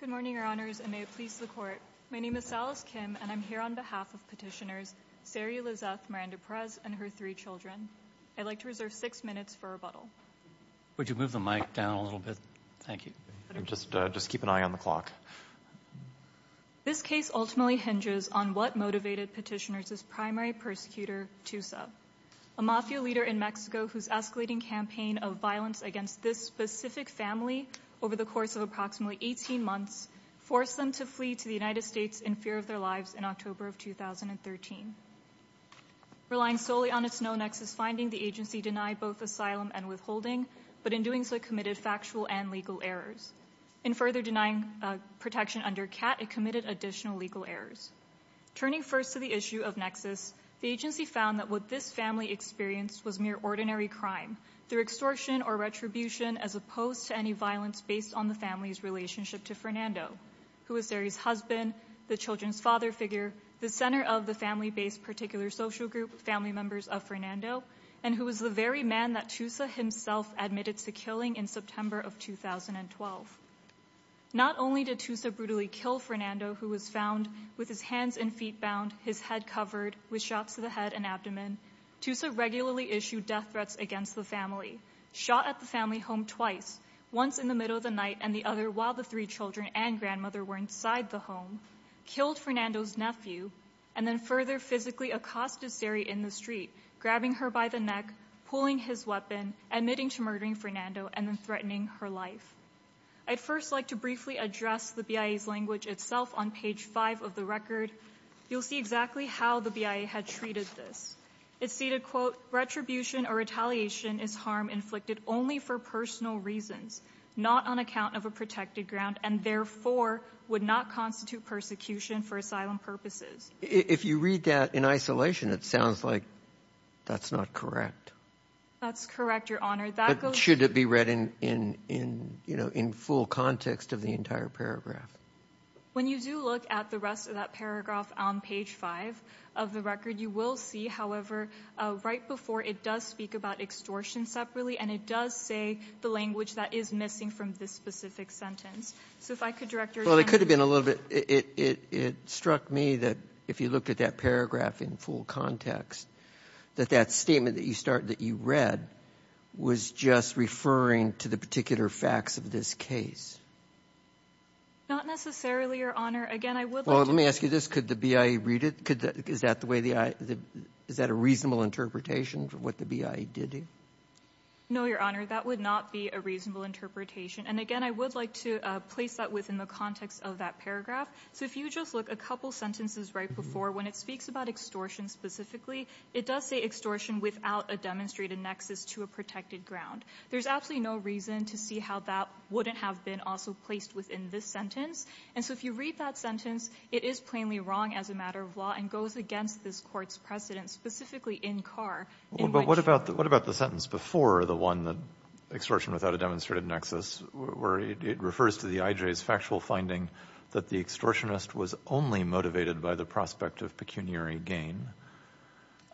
Good morning, Your Honors, and may it please the Court. My name is Salas Kim, and I'm here on behalf of Petitioners Saria Lizeth, Miranda Perez, and her three children. I'd like to reserve six minutes for rebuttal. Would you move the mic down a little bit? Thank you. Just keep an eye on the clock. This case ultimately hinges on what motivated Petitioners' primary persecutor, Tusa, a mafia leader in Mexico whose escalating campaign of violence against this specific family over the course of approximately 18 months forced them to flee to the United States in fear of their lives in October of 2013. Relying solely on its no-nexus finding, the agency denied both asylum and withholding, but in doing so committed factual and legal errors. In further denying protection under CAT, it committed additional legal errors. Turning first to the issue of nexus, the agency found that what this family experienced was mere ordinary crime through extortion or retribution as opposed to any violence based on the family's relationship to Fernando, who was Saria's husband, the children's father figure, the center of the family-based particular social group, family members of Fernando, and who was the very man that Tusa himself admitted to killing in September of 2012. Not only did Tusa brutally kill Fernando, who was found with his hands and feet bound, his head covered with shots to the head and abdomen, Tusa regularly issued death threats against the family, shot at the family home twice, once in the middle of the night and the other while the three children and grandmother were inside the home, killed Fernando's nephew, and then further physically accosted Saria in the street, grabbing her by the neck, pulling his weapon, admitting to murdering Fernando and then threatening her life. I'd first like to briefly address the BIA's language itself on page five of the record. You'll see exactly how the BIA had treated this. It's stated, quote, retribution or retaliation is harm inflicted only for personal reasons, not on account of a protected ground, and therefore would not constitute persecution for asylum purposes. If you read that in isolation, it sounds like that's not correct. That's correct, Your Honor. Should it be read in full context of the entire paragraph? When you do look at the rest of that paragraph on page five of the record, you will see, however, right before it does speak about extortion separately and it does say the language that is missing from this specific sentence. So if I could, Director, extend that. Well, it could have been a little bit. It struck me that if you looked at that paragraph in full context, that that statement that you read was just referring to the particular facts of this case. Not necessarily, Your Honor. Again, I would like to ask you this. Could the BIA read it? Is that the way the I the Is that a reasonable interpretation for what the BIA did? No, Your Honor. That would not be a reasonable interpretation. And again, I would like to place that within the context of that paragraph. So if you just look a couple sentences right before, when it speaks about extortion specifically, it does say extortion without a demonstrated nexus to a protected ground. There's absolutely no reason to see how that wouldn't have been also placed within this sentence. And so if you read that sentence, it is plainly wrong as a matter of law. And goes against this court's precedent, specifically in Carr. But what about the sentence before the one that extortion without a demonstrated nexus, where it refers to the IJ's factual finding that the extortionist was only motivated by the prospect of pecuniary gain?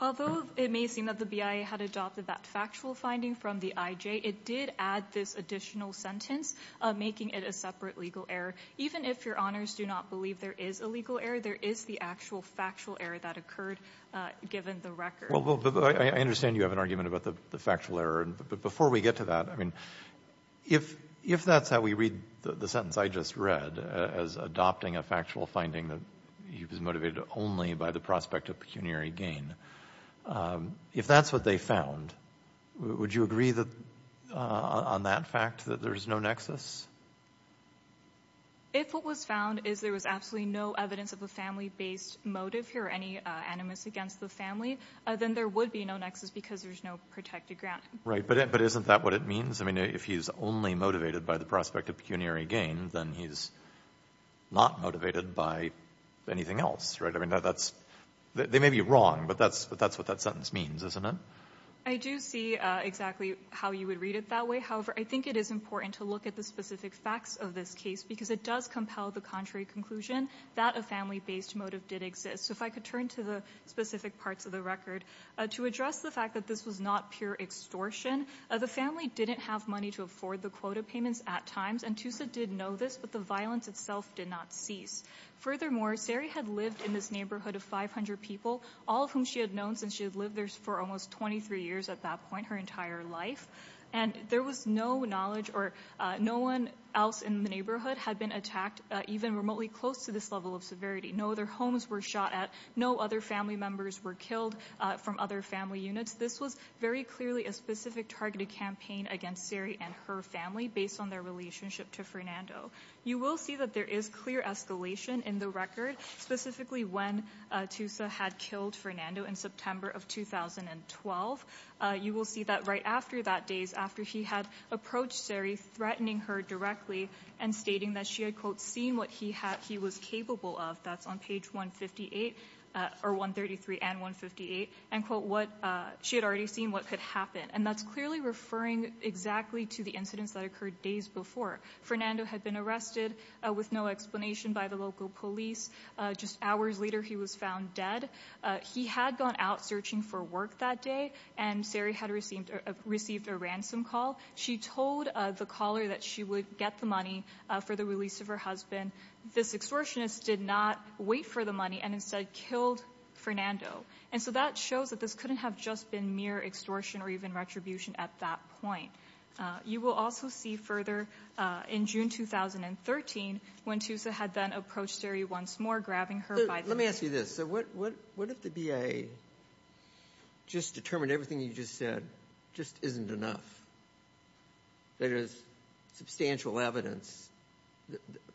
Although it may seem that the BIA had adopted that factual finding from the IJ, it did add this additional sentence, making it a separate legal error. Even if Your Honors do not believe there is a legal error, there is the actual factual error that occurred given the record. Well, I understand you have an argument about the factual error, but before we get to that, I mean, if that's how we read the sentence I just read, as adopting a factual finding that he was motivated only by the prospect of pecuniary gain, if that's what they found, would you agree on that fact that there's no nexus? If what was found is there was absolutely no evidence of a family-based motive here or any animus against the family, then there would be no nexus because there's no protected grant. Right, but isn't that what it means? I mean, if he's only motivated by the prospect of pecuniary gain, then he's not motivated by anything else, right? I mean, they may be wrong, but that's what that sentence means, isn't it? I do see exactly how you would read it that way. However, I think it is important to look at the specific facts of this case because it does compel the contrary conclusion that a family-based motive did exist. So if I could turn to the specific parts of the record. To address the fact that this was not pure extortion, the family didn't have money to afford the quota payments at times, and Tusa did know this, but the violence itself did not cease. Furthermore, Sari had lived in this neighborhood of 500 people, all of whom she had known since she had lived there for almost 23 years at that point, her entire life, and there was no knowledge or no one else in the neighborhood had been attacked, even remotely close to this level of severity. No other homes were shot at, no other family members were killed from other family units. This was very clearly a specific targeted campaign against Sari and her family based on their relationship to Fernando. You will see that there is clear escalation in the record, specifically when Tusa had killed Fernando in September of 2012. You will see that right after that, days after he had approached Sari, threatening her directly and stating that she had, quote, seen what he was capable of, that's on page 158, or 133 and 158, and, quote, she had already seen what could happen, and that's clearly referring exactly to the incidents that occurred days before. Fernando had been arrested with no explanation by the local police. Just hours later, he was found dead. He had gone out searching for work that day, and Sari had received a ransom call. She told the caller that she would get the money for the release of her husband. This extortionist did not wait for the money and instead killed Fernando, and so that shows that this couldn't have just been mere extortion or even retribution at that point. You will also see further in June 2013 when Tusa had then approached Sari once more, grabbing her by the neck. Let me ask you this. So what if the BIA just determined everything you just said just isn't enough? There is substantial evidence.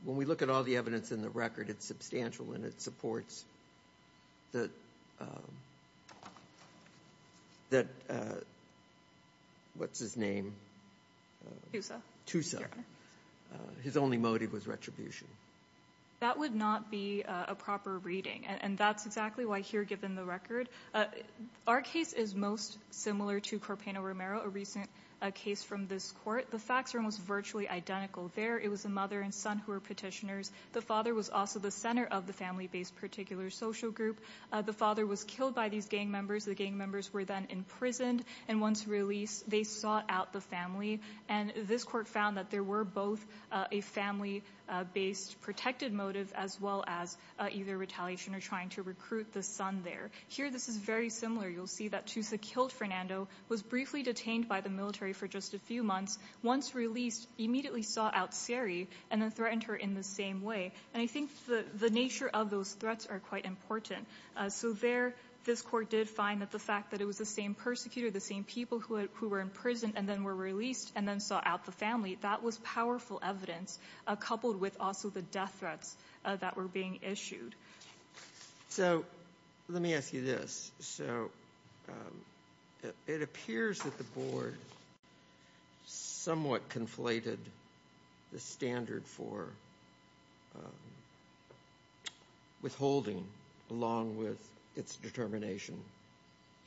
When we look at all the evidence in the record, it's substantial, and it supports that, what's his name? Tusa. His only motive was retribution. That would not be a proper reading, and that's exactly why here, given the record, our case is most similar to Corpano Romero, a recent case from this court. The facts are almost virtually identical. There, it was the mother and son who were petitioners. The father was also the center of the family-based particular social group. The father was killed by these gang members. The gang members were then imprisoned, and once released, they sought out the family, and this court found that there were both a family-based protected motive as well as either retaliation or trying to recruit the son there. Here, this is very similar. You'll see that Tusa killed Fernando, was briefly detained by the military for just a few months, once released, immediately sought out Seri, and then threatened her in the same way. And I think the nature of those threats are quite important. So there, this court did find that the fact that it was the same persecutor, the same people who were in prison and then were released and then sought out the family, that was powerful evidence coupled with also the death threats that were being issued. So let me ask you this. So it appears that the board somewhat conflated the standard for withholding along with its determination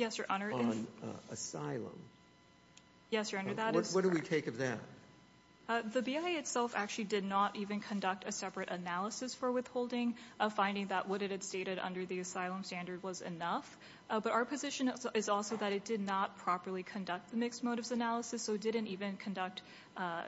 on asylum. Yes, Your Honor, that is- What do we take of that? The BIA itself actually did not even conduct a separate analysis for withholding, a finding that what it had stated under the asylum standard was enough. But our position is also that it did not properly conduct the mixed motives analysis, so it didn't even conduct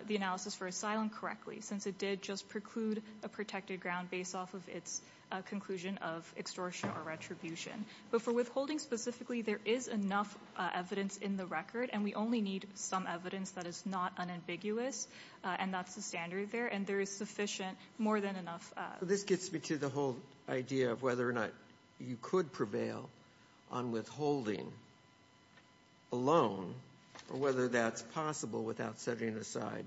the analysis for asylum correctly, since it did just preclude a protected ground based off of its conclusion of extortion or retribution. But for withholding specifically, there is enough evidence in the record, and we only need some evidence that is not unambiguous, and that's the standard there. And there is sufficient, more than enough- This gets me to the whole idea of whether or not you could prevail on withholding alone, or whether that's possible without setting aside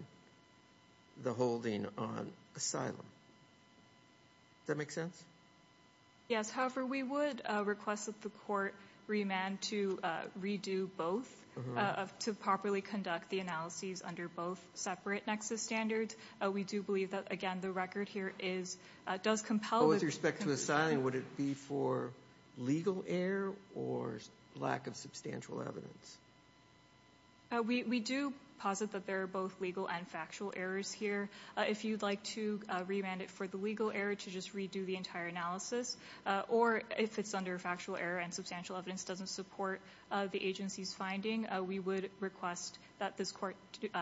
the holding on asylum. Does that make sense? Yes, however, we would request that the court remand to redo both, to properly conduct the analyses under both separate nexus standards. We do believe that, again, the record here does compel- But with respect to asylum, would it be for legal error, or lack of substantial evidence? We do posit that there are both legal and factual errors here. If you'd like to remand it for the legal error to just redo the entire analysis, or if it's under factual error and substantial evidence doesn't support the agency's finding, we would request that this court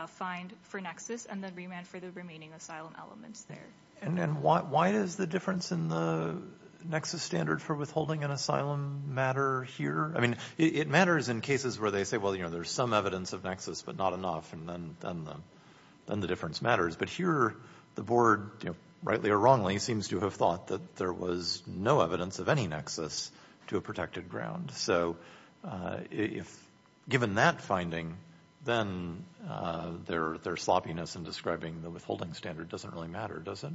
find for nexus, and then remand for the remaining asylum elements there. And why is the difference in the nexus standard for withholding an asylum matter here? I mean, it matters in cases where they say, well, you know, there's some evidence of nexus, but not enough, and then the difference matters. But here, the board, rightly or wrongly, seems to have thought that there was no evidence of any nexus to a protected ground. So, given that finding, then their sloppiness in describing the withholding standard doesn't really matter, does it?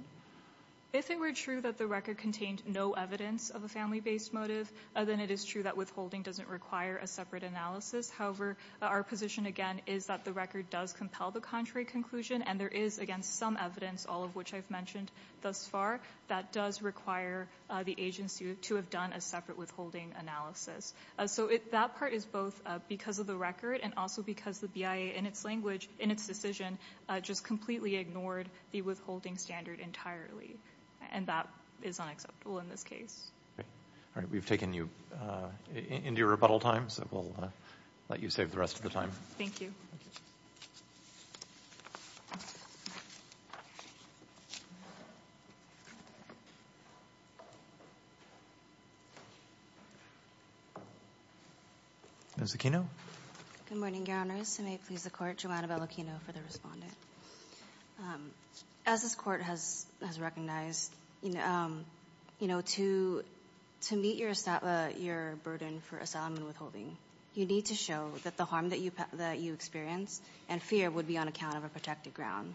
If it were true that the record contained no evidence of a family-based motive, then it is true that withholding doesn't require a separate analysis. However, our position, again, is that the record does compel the contrary conclusion, and there is, again, some evidence, all of which I've mentioned thus far, that does require the agency to have done a separate withholding analysis. So, that part is both because of the record, and also because the BIA, in its language, in its decision, just completely ignored the withholding standard entirely, and that is unacceptable in this case. All right, we've taken you into your rebuttal time, so we'll let you save the rest of the time. Thank you. Ms. Aquino. Good morning, Your Honors. If I may please the Court, Joanna Bell Aquino for the respondent. As this Court has recognized, to meet your burden for asylum and withholding, you need to show that the harm that you experience and fear would be on account of a protected ground.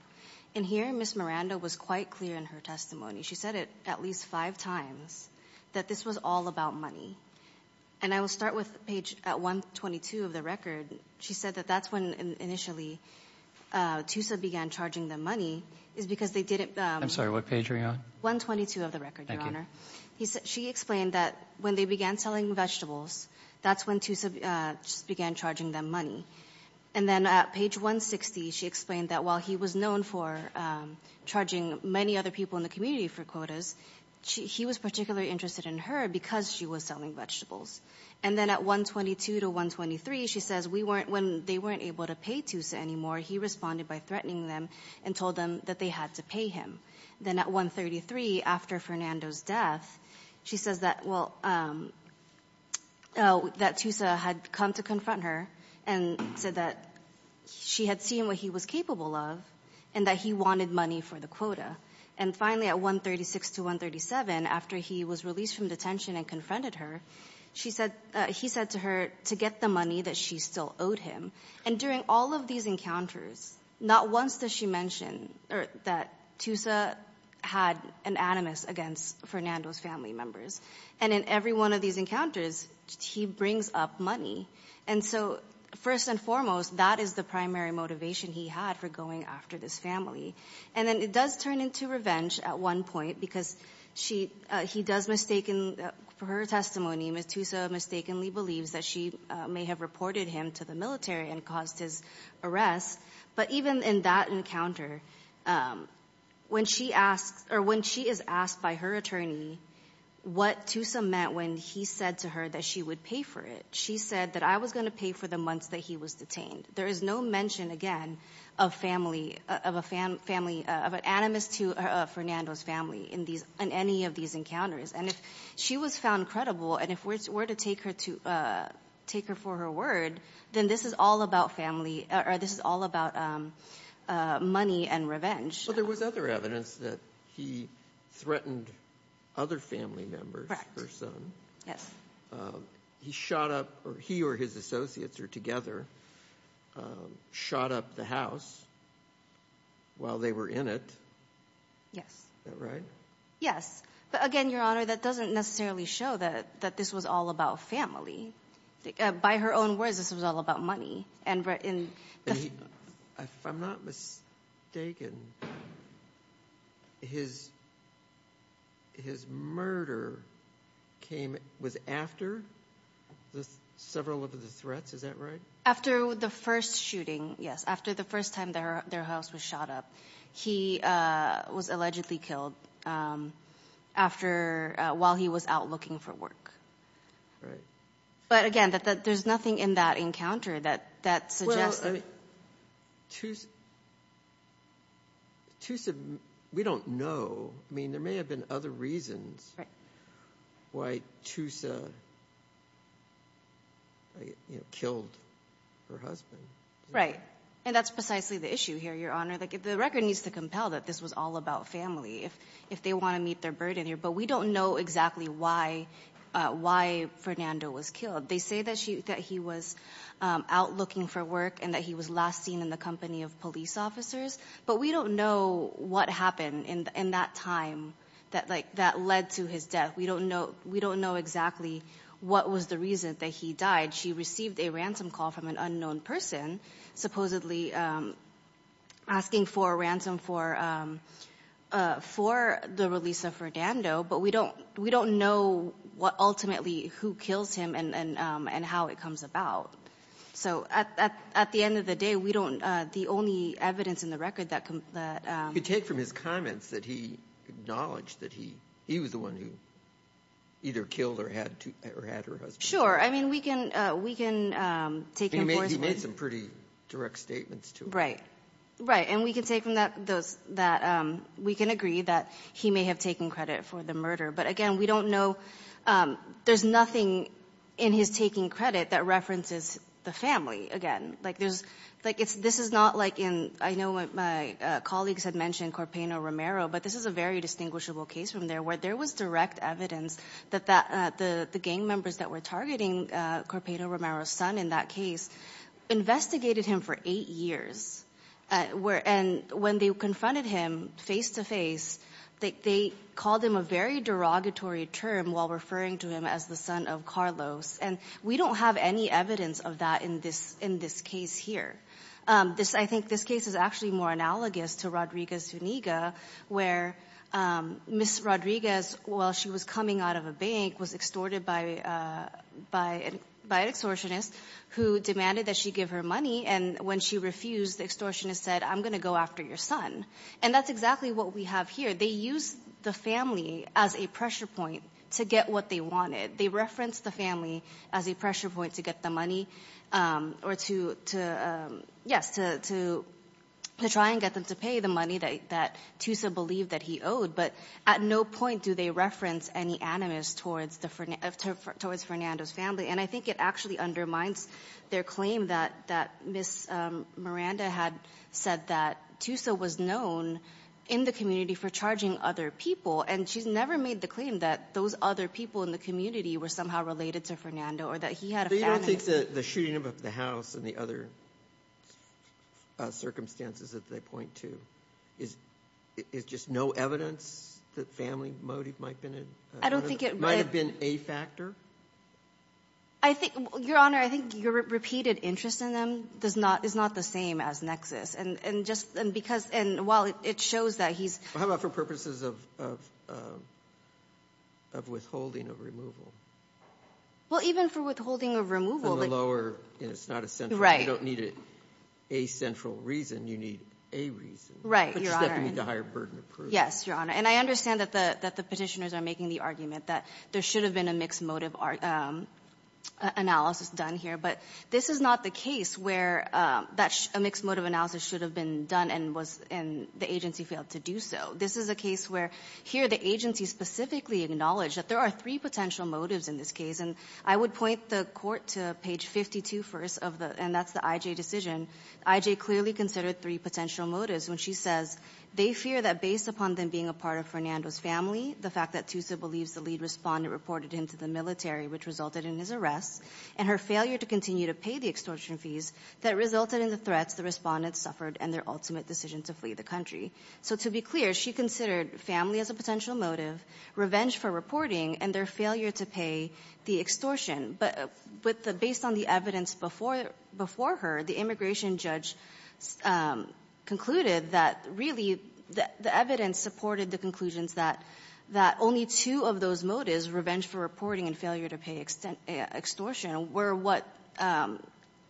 And here, Ms. Miranda was quite clear in her testimony. She said it at least five times, that this was all about money. And I will start with page 122 of the record. She said that that's when, initially, TUSA began charging them money, is because they didn't. I'm sorry, what page are we on? 122 of the record, Your Honor. She explained that when they began selling vegetables, that's when TUSA began charging them money. And then at page 160, she explained that while he was known for charging many other people in the community for quotas, he was particularly interested in her because she was selling vegetables. And then at 122 to 123, she says, when they weren't able to pay TUSA anymore, he responded by threatening them and told them that they had to pay him. Then at 133, after Fernando's death, she says that TUSA had come to confront her and said that she had seen what he was capable of and that he wanted money for the quota. And finally, at 136 to 137, after he was released from detention and confronted her, he said to her to get the money that she still owed him. And during all of these encounters, not once does she mention that TUSA had an animus against Fernando's family members. And in every one of these encounters, he brings up money. And so first and foremost, that is the primary motivation he had for going after this family. And then it does turn into revenge at one point because he does mistaken, for her testimony, Ms. TUSA mistakenly believes that she may have reported him to the military and caused his arrest. But even in that encounter, when she is asked by her attorney what TUSA meant when he said to her that she would pay for it, she said that I was gonna pay for the months that he was detained. There is no mention, again, of an animus to Fernando's family in any of these encounters. And if she was found credible, and if we're to take her for her word, then this is all about family, or this is all about money and revenge. But there was other evidence that he threatened other family members, her son. He shot up, or he or his associates, or together, shot up the house while they were in it. Yes. Is that right? Yes, but again, Your Honor, that doesn't necessarily show that this was all about family. By her own words, this was all about money. If I'm not mistaken, his murder was after several of the threats, is that right? After the first shooting, yes. After the first time their house was shot up. That was allegedly killed while he was out looking for work. Right. But again, there's nothing in that encounter that suggests that- Well, Tusa, we don't know. I mean, there may have been other reasons why Tusa killed her husband. Right, and that's precisely the issue here, Your Honor. The record needs to compel that this was all about family if they wanna meet their burden here, but we don't know exactly why Fernando was killed. They say that he was out looking for work and that he was last seen in the company of police officers, but we don't know what happened in that time that led to his death. We don't know exactly what was the reason that he died. She received a ransom call from an unknown person, supposedly asking for a ransom for the release of Fernando, but we don't know ultimately who kills him and how it comes about. So at the end of the day, the only evidence in the record that- You take from his comments that he acknowledged that he was the one who either killed or had her husband. Sure, I mean, we can take enforcement- He made some pretty direct statements, too. Right, right, and we can take from those that we can agree that he may have taken credit for the murder, but again, we don't know. There's nothing in his taking credit that references the family, again. Like, this is not like in, I know my colleagues had mentioned Corpaino Romero, but this is a very distinguishable case from there where there was direct evidence that the gang members that were targeting Corpaino Romero's son in that case investigated him for eight years, and when they confronted him face-to-face, they called him a very derogatory term while referring to him as the son of Carlos, and we don't have any evidence of that in this case here. I think this case is actually more analogous to Rodriguez-Zuniga, where Ms. Rodriguez, while she was coming out of a bank, was extorted by an extortionist who demanded that she give her money, and when she refused, the extortionist said, I'm gonna go after your son, and that's exactly what we have here. They used the family as a pressure point to get what they wanted. They referenced the family as a pressure point to get the money, or to, yes, to try and get them to pay the money that Tusa believed that he owed, but at no point do they reference any animus towards Fernando's family, and I think it actually undermines their claim that Ms. Miranda had said that Tusa was known in the community for charging other people, and she's never made the claim that those other people in the community were somehow related to Fernando, or that he had a family. So you don't think the shooting of the house and the other circumstances that they point to is just no evidence that family motive might have been in? I don't think it, Might have been a factor? I think, Your Honor, I think your repeated interest in them does not, is not the same as Nexus, and just, and because, and while it shows that he's, How about for purposes of withholding of removal? Well, even for withholding of removal, From the lower, it's not a central, you don't need a central reason, you need a reason. Right, Your Honor. But you definitely need to hire a burden of proof. Yes, Your Honor, and I understand that the petitioners are making the argument that there should have been a mixed motive analysis done here, but this is not the case where a mixed motive analysis should have been done and was, and the agency failed to do so. This is a case where here, the agency specifically acknowledged that there are three potential motives in this case, and I would point the court to page 52 first of the, and that's the IJ decision. IJ clearly considered three potential motives when she says, they fear that based upon them being a part of Fernando's family, the fact that Tusa believes the lead respondent reported him to the military, which resulted in his arrest, and her failure to continue to pay the extortion fees that resulted in the threats the respondent suffered and their ultimate decision to flee the country. So to be clear, she considered family as a potential motive, revenge for reporting, and their failure to pay the extortion, but with the, based on the evidence before her, the immigration judge concluded that, really, the evidence supported the conclusions that only two of those motives, revenge for reporting and failure to pay extortion, were what,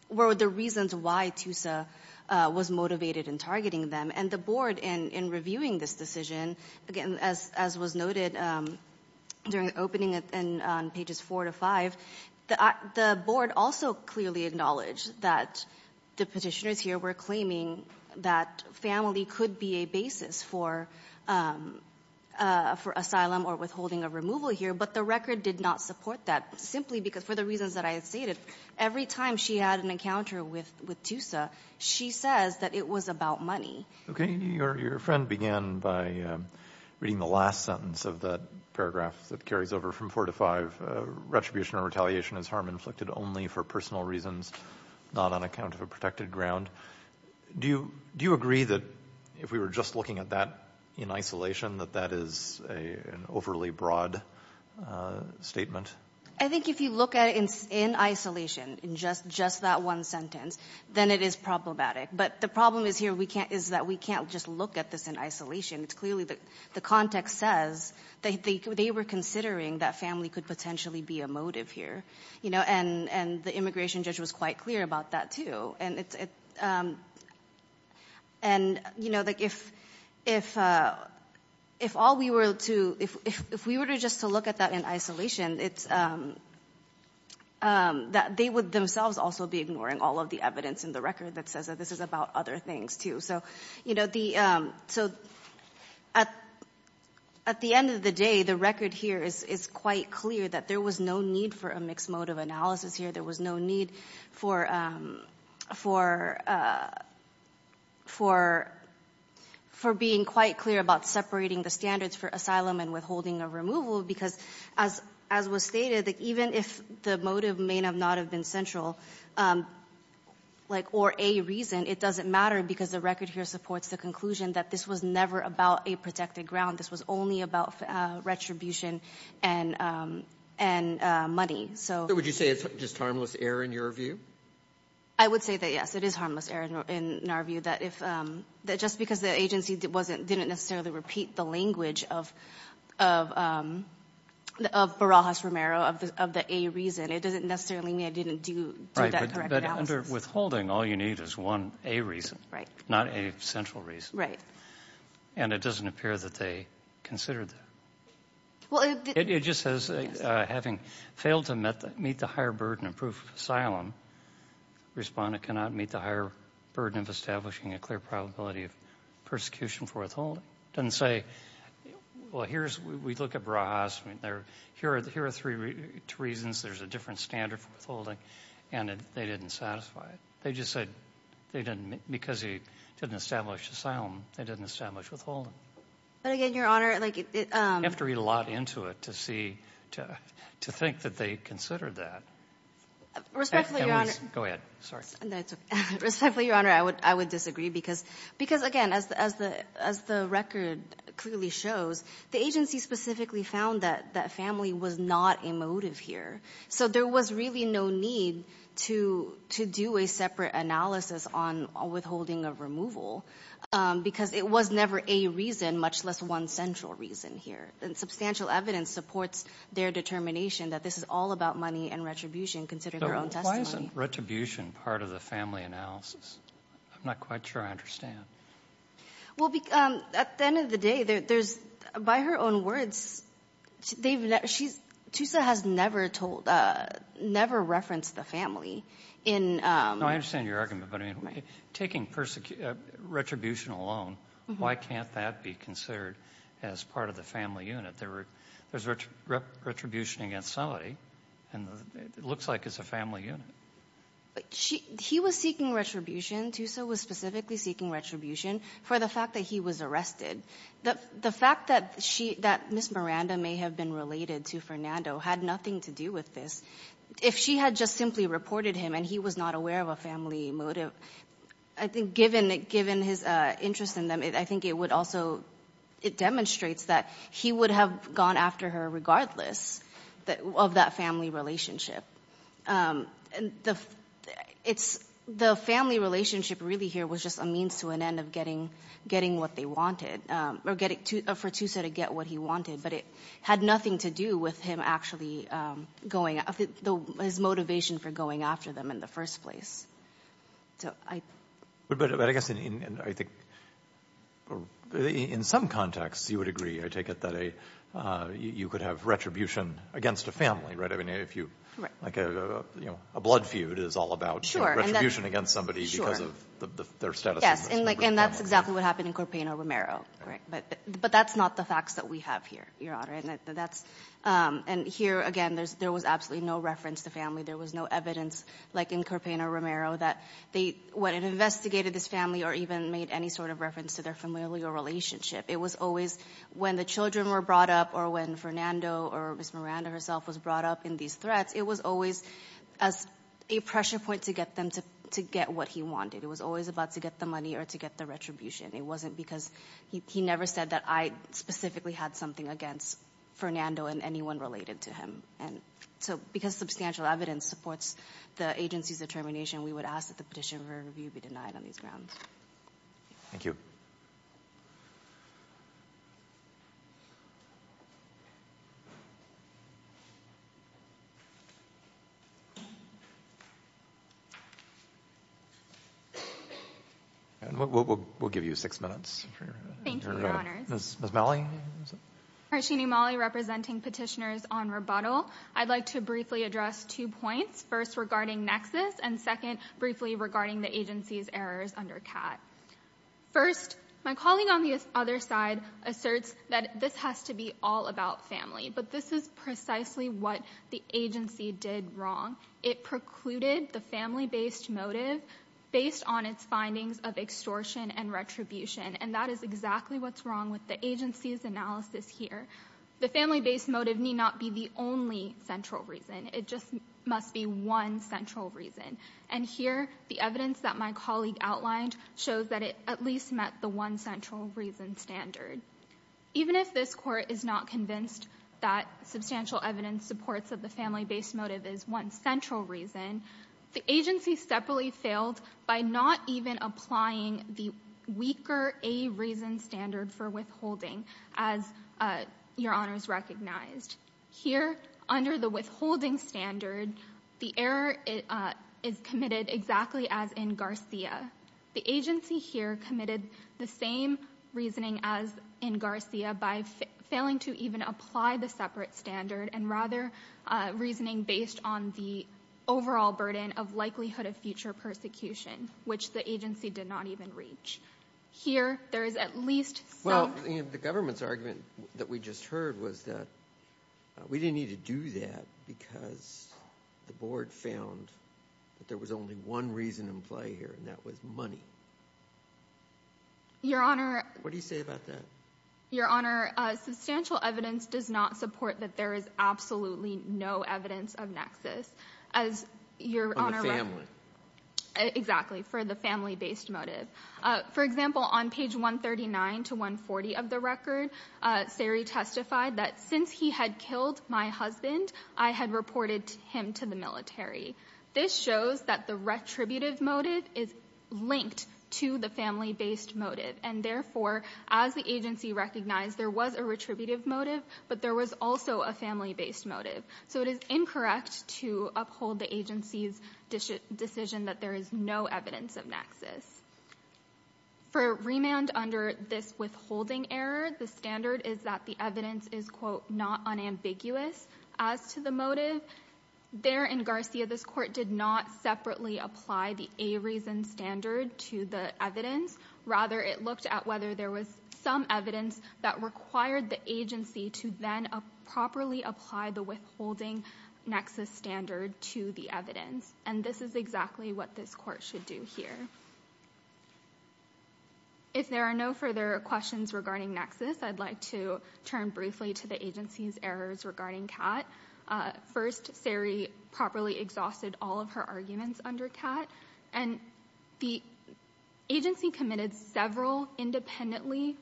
were the reasons why Tusa was motivated in targeting them. And the board, in reviewing this decision, again, as was noted during the opening and on pages four to five, the board also clearly acknowledged that the Petitioners here were claiming that family could be a basis for, for asylum or withholding of removal here, but the record did not support that, simply because, for the reasons that I stated, every time she had an encounter with Tusa, she says that it was about money. Okay, and your friend began by reading the last sentence of that paragraph that carries over from four to five, retribution or retaliation is harm inflicted only for personal reasons, not on account of a protected ground. Do you agree that, if we were just looking at that in isolation, that that is an overly broad statement? I think if you look at it in isolation, in just that one sentence, then it is problematic. But the problem is here, is that we can't just look at this in isolation. It's clearly the context says that they were considering that family could potentially be a motive here, and the immigration judge was quite clear about that too. And it's, and, you know, like if all we were to, if we were to just to look at that in isolation, it's, that they would themselves also be ignoring all of the evidence in the record that says that this is about other things too. So, you know, the, so, at the end of the day, the record here is quite clear that there was no need for a mixed motive analysis here. There was no need for, for being quite clear about separating the standards for asylum and withholding of removal, because as was stated, that even if the motive may not have been central, like, or a reason, it doesn't matter because the record here supports the conclusion that this was never about a protected ground. This was only about retribution and money. So. So would you say it's just harmless error in your view? I would say that, yes, it is harmless error in our view, that if, that just because the agency didn't necessarily repeat the language of Barajas-Romero, of the A reason, it doesn't necessarily mean it didn't do that correct analysis. Right, but under withholding, all you need is one A reason. Right. Not a central reason. Right. And it doesn't appear that they considered that. Well, it. It just says, having failed to meet the higher burden of proof of asylum, respondent cannot meet the higher burden of establishing a clear probability of persecution for withholding. Doesn't say, well, here's, we look at Barajas, I mean, there, here are three reasons. There's a different standard for withholding, and they didn't satisfy it. They just said, they didn't, because he didn't establish asylum, they didn't establish withholding. But again, Your Honor, like. You have to read a lot into it to see, to think that they considered that. Respectfully, Your Honor. Go ahead, sorry. Respectfully, Your Honor, I would disagree, because again, as the record clearly shows, the agency specifically found that family was not a motive here. So there was really no need to do a separate analysis on withholding of removal, because it was never A reason, much less one central reason here. And substantial evidence supports their determination that this is all about money and retribution, considering their own testimony. But why isn't retribution part of the family analysis? I'm not quite sure I understand. Well, at the end of the day, there's, by her own words, they've, she's, Tusa has never told, never referenced the family in. No, I understand your argument, but I mean, taking retribution alone, why can't that be considered as part of the family unit? There's retribution against somebody, and it looks like it's a family unit. She, he was seeking retribution, Tusa was specifically seeking retribution for the fact that he was arrested. The fact that she, that Ms. Miranda may have been related to Fernando had nothing to do with this. If she had just simply reported him and he was not aware of a family motive, I think given his interest in them, I think it would also, it demonstrates that he would have gone after her regardless of that family relationship. It's, the family relationship really here was just a means to an end of getting what they wanted, or for Tusa to get what he wanted, but it had nothing to do with him actually going, his motivation for going after them in the first place. But I guess, I think, in some contexts, you would agree, I take it that a, you could have retribution against a family, right? I mean, if you, like a blood feud is all about retribution against somebody because of their status. Yes, and that's exactly what happened in Corpaino Romero, but that's not the facts that we have here, Your Honor, and that's, and here, again, there was absolutely no reference to family. There was no evidence like in Corpaino Romero that they went and investigated this family or even made any sort of reference to their familial relationship. It was always when the children were brought up or when Fernando or Ms. Miranda herself was brought up in these threats, it was always a pressure point to get them to get what he wanted. It was always about to get the money or to get the retribution. It wasn't because, he never said that I specifically had something against Fernando and anyone related to him. And so, because substantial evidence supports the agency's determination, we would ask that the petition for review be denied on these grounds. Thank you. We'll give you six minutes. Thank you, Your Honors. Ms. Malley? Harshini Malley, representing petitioners on rebuttal. I'd like to briefly address two points, first regarding Nexus and second, briefly regarding the agency's errors under CAT. First, my colleague on the other side asserts that this has to be all about family, but this is precisely what the agency did wrong. It precluded the family-based motive based on its findings of extortion and retribution, and that is exactly what's wrong with the agency's analysis here. The family-based motive need not be the only central reason. It just must be one central reason. And here, the evidence that my colleague outlined shows that it at least met the one central reason standard. Even if this Court is not convinced that substantial evidence supports that the family-based motive is one central reason, the agency separately failed by not even applying the weaker a reason standard for withholding, as Your Honors recognized. Here, under the withholding standard, the error is committed exactly as in Garcia. The agency here committed the same reasoning as in Garcia by failing to even apply the separate standard and rather reasoning based on the overall burden of likelihood of future persecution, which the agency did not even reach. Here, there is at least some- We didn't need to do that because the board found that there was only one reason in play here, and that was money. Your Honor- What do you say about that? Your Honor, substantial evidence does not support that there is absolutely no evidence of nexus, as Your Honor- On the family. Exactly, for the family-based motive. For example, on page 139 to 140 of the record, Saree testified that, since he had killed my husband, I had reported him to the military. This shows that the retributive motive is linked to the family-based motive, and therefore, as the agency recognized, there was a retributive motive, but there was also a family-based motive. So it is incorrect to uphold the agency's decision that there is no evidence of nexus. For remand under this withholding error, the standard is that the evidence is, quote, not unambiguous as to the motive. There in Garcia, this court did not separately apply the a reason standard to the evidence. Rather, it looked at whether there was some evidence that required the agency to then properly apply the withholding nexus standard to the evidence. And this is exactly what this court should do here. If there are no further questions regarding nexus, I'd like to turn briefly to the agency's errors regarding Catt. First, Saree properly exhausted all of her arguments under Catt. And the agency committed several independently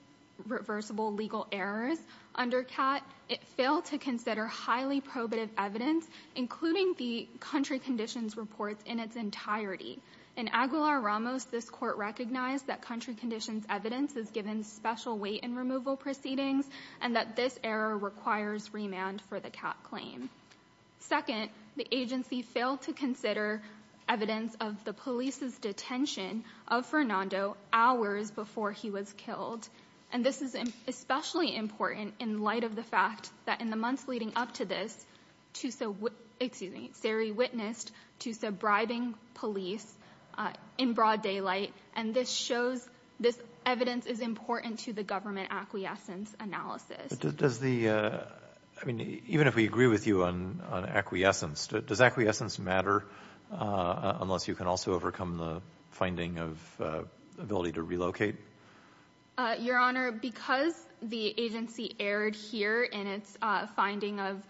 reversible legal errors under Catt. It failed to consider highly probative evidence, including the country conditions reports in its entirety. In Aguilar-Ramos, this court recognized that country conditions evidence is given special weight in removal proceedings, and that this error requires remand for the Catt claim. Second, the agency failed to consider evidence of the police's detention of Fernando hours before he was killed. And this is especially important in light of the fact that in the months leading up to this, excuse me, Saree witnessed to subbribing police in broad daylight. And this evidence is important to the government acquiescence analysis. Does the, I mean, even if we agree with you on acquiescence, does acquiescence matter unless you can also overcome the finding of ability to relocate? Your Honor, because the agency erred here in its finding of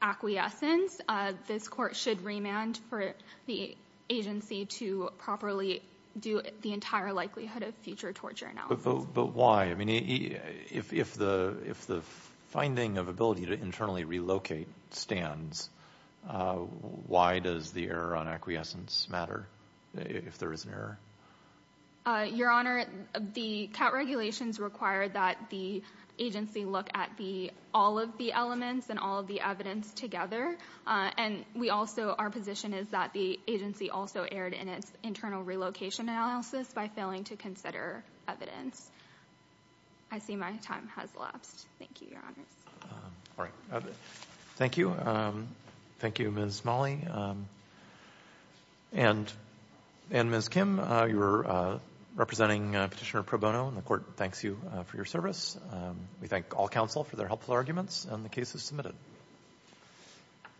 acquiescence, this court should remand for the agency to properly do the entire likelihood of future torture analysis. But why? I mean, if the finding of ability to internally relocate stands, why does the error on acquiescence matter if there is an error? Your Honor, the Catt regulations require that the agency look at all of the elements and all of the evidence together. And we also, our position is that the agency also erred in its internal relocation analysis by failing to consider evidence. I see my time has lapsed. Thank you, Your Honors. All right. Thank you. Thank you, Ms. Molley. And Ms. Kim, you're representing Petitioner Pro Bono and the court thanks you for your service. We thank all counsel for their helpful arguments and the case is submitted.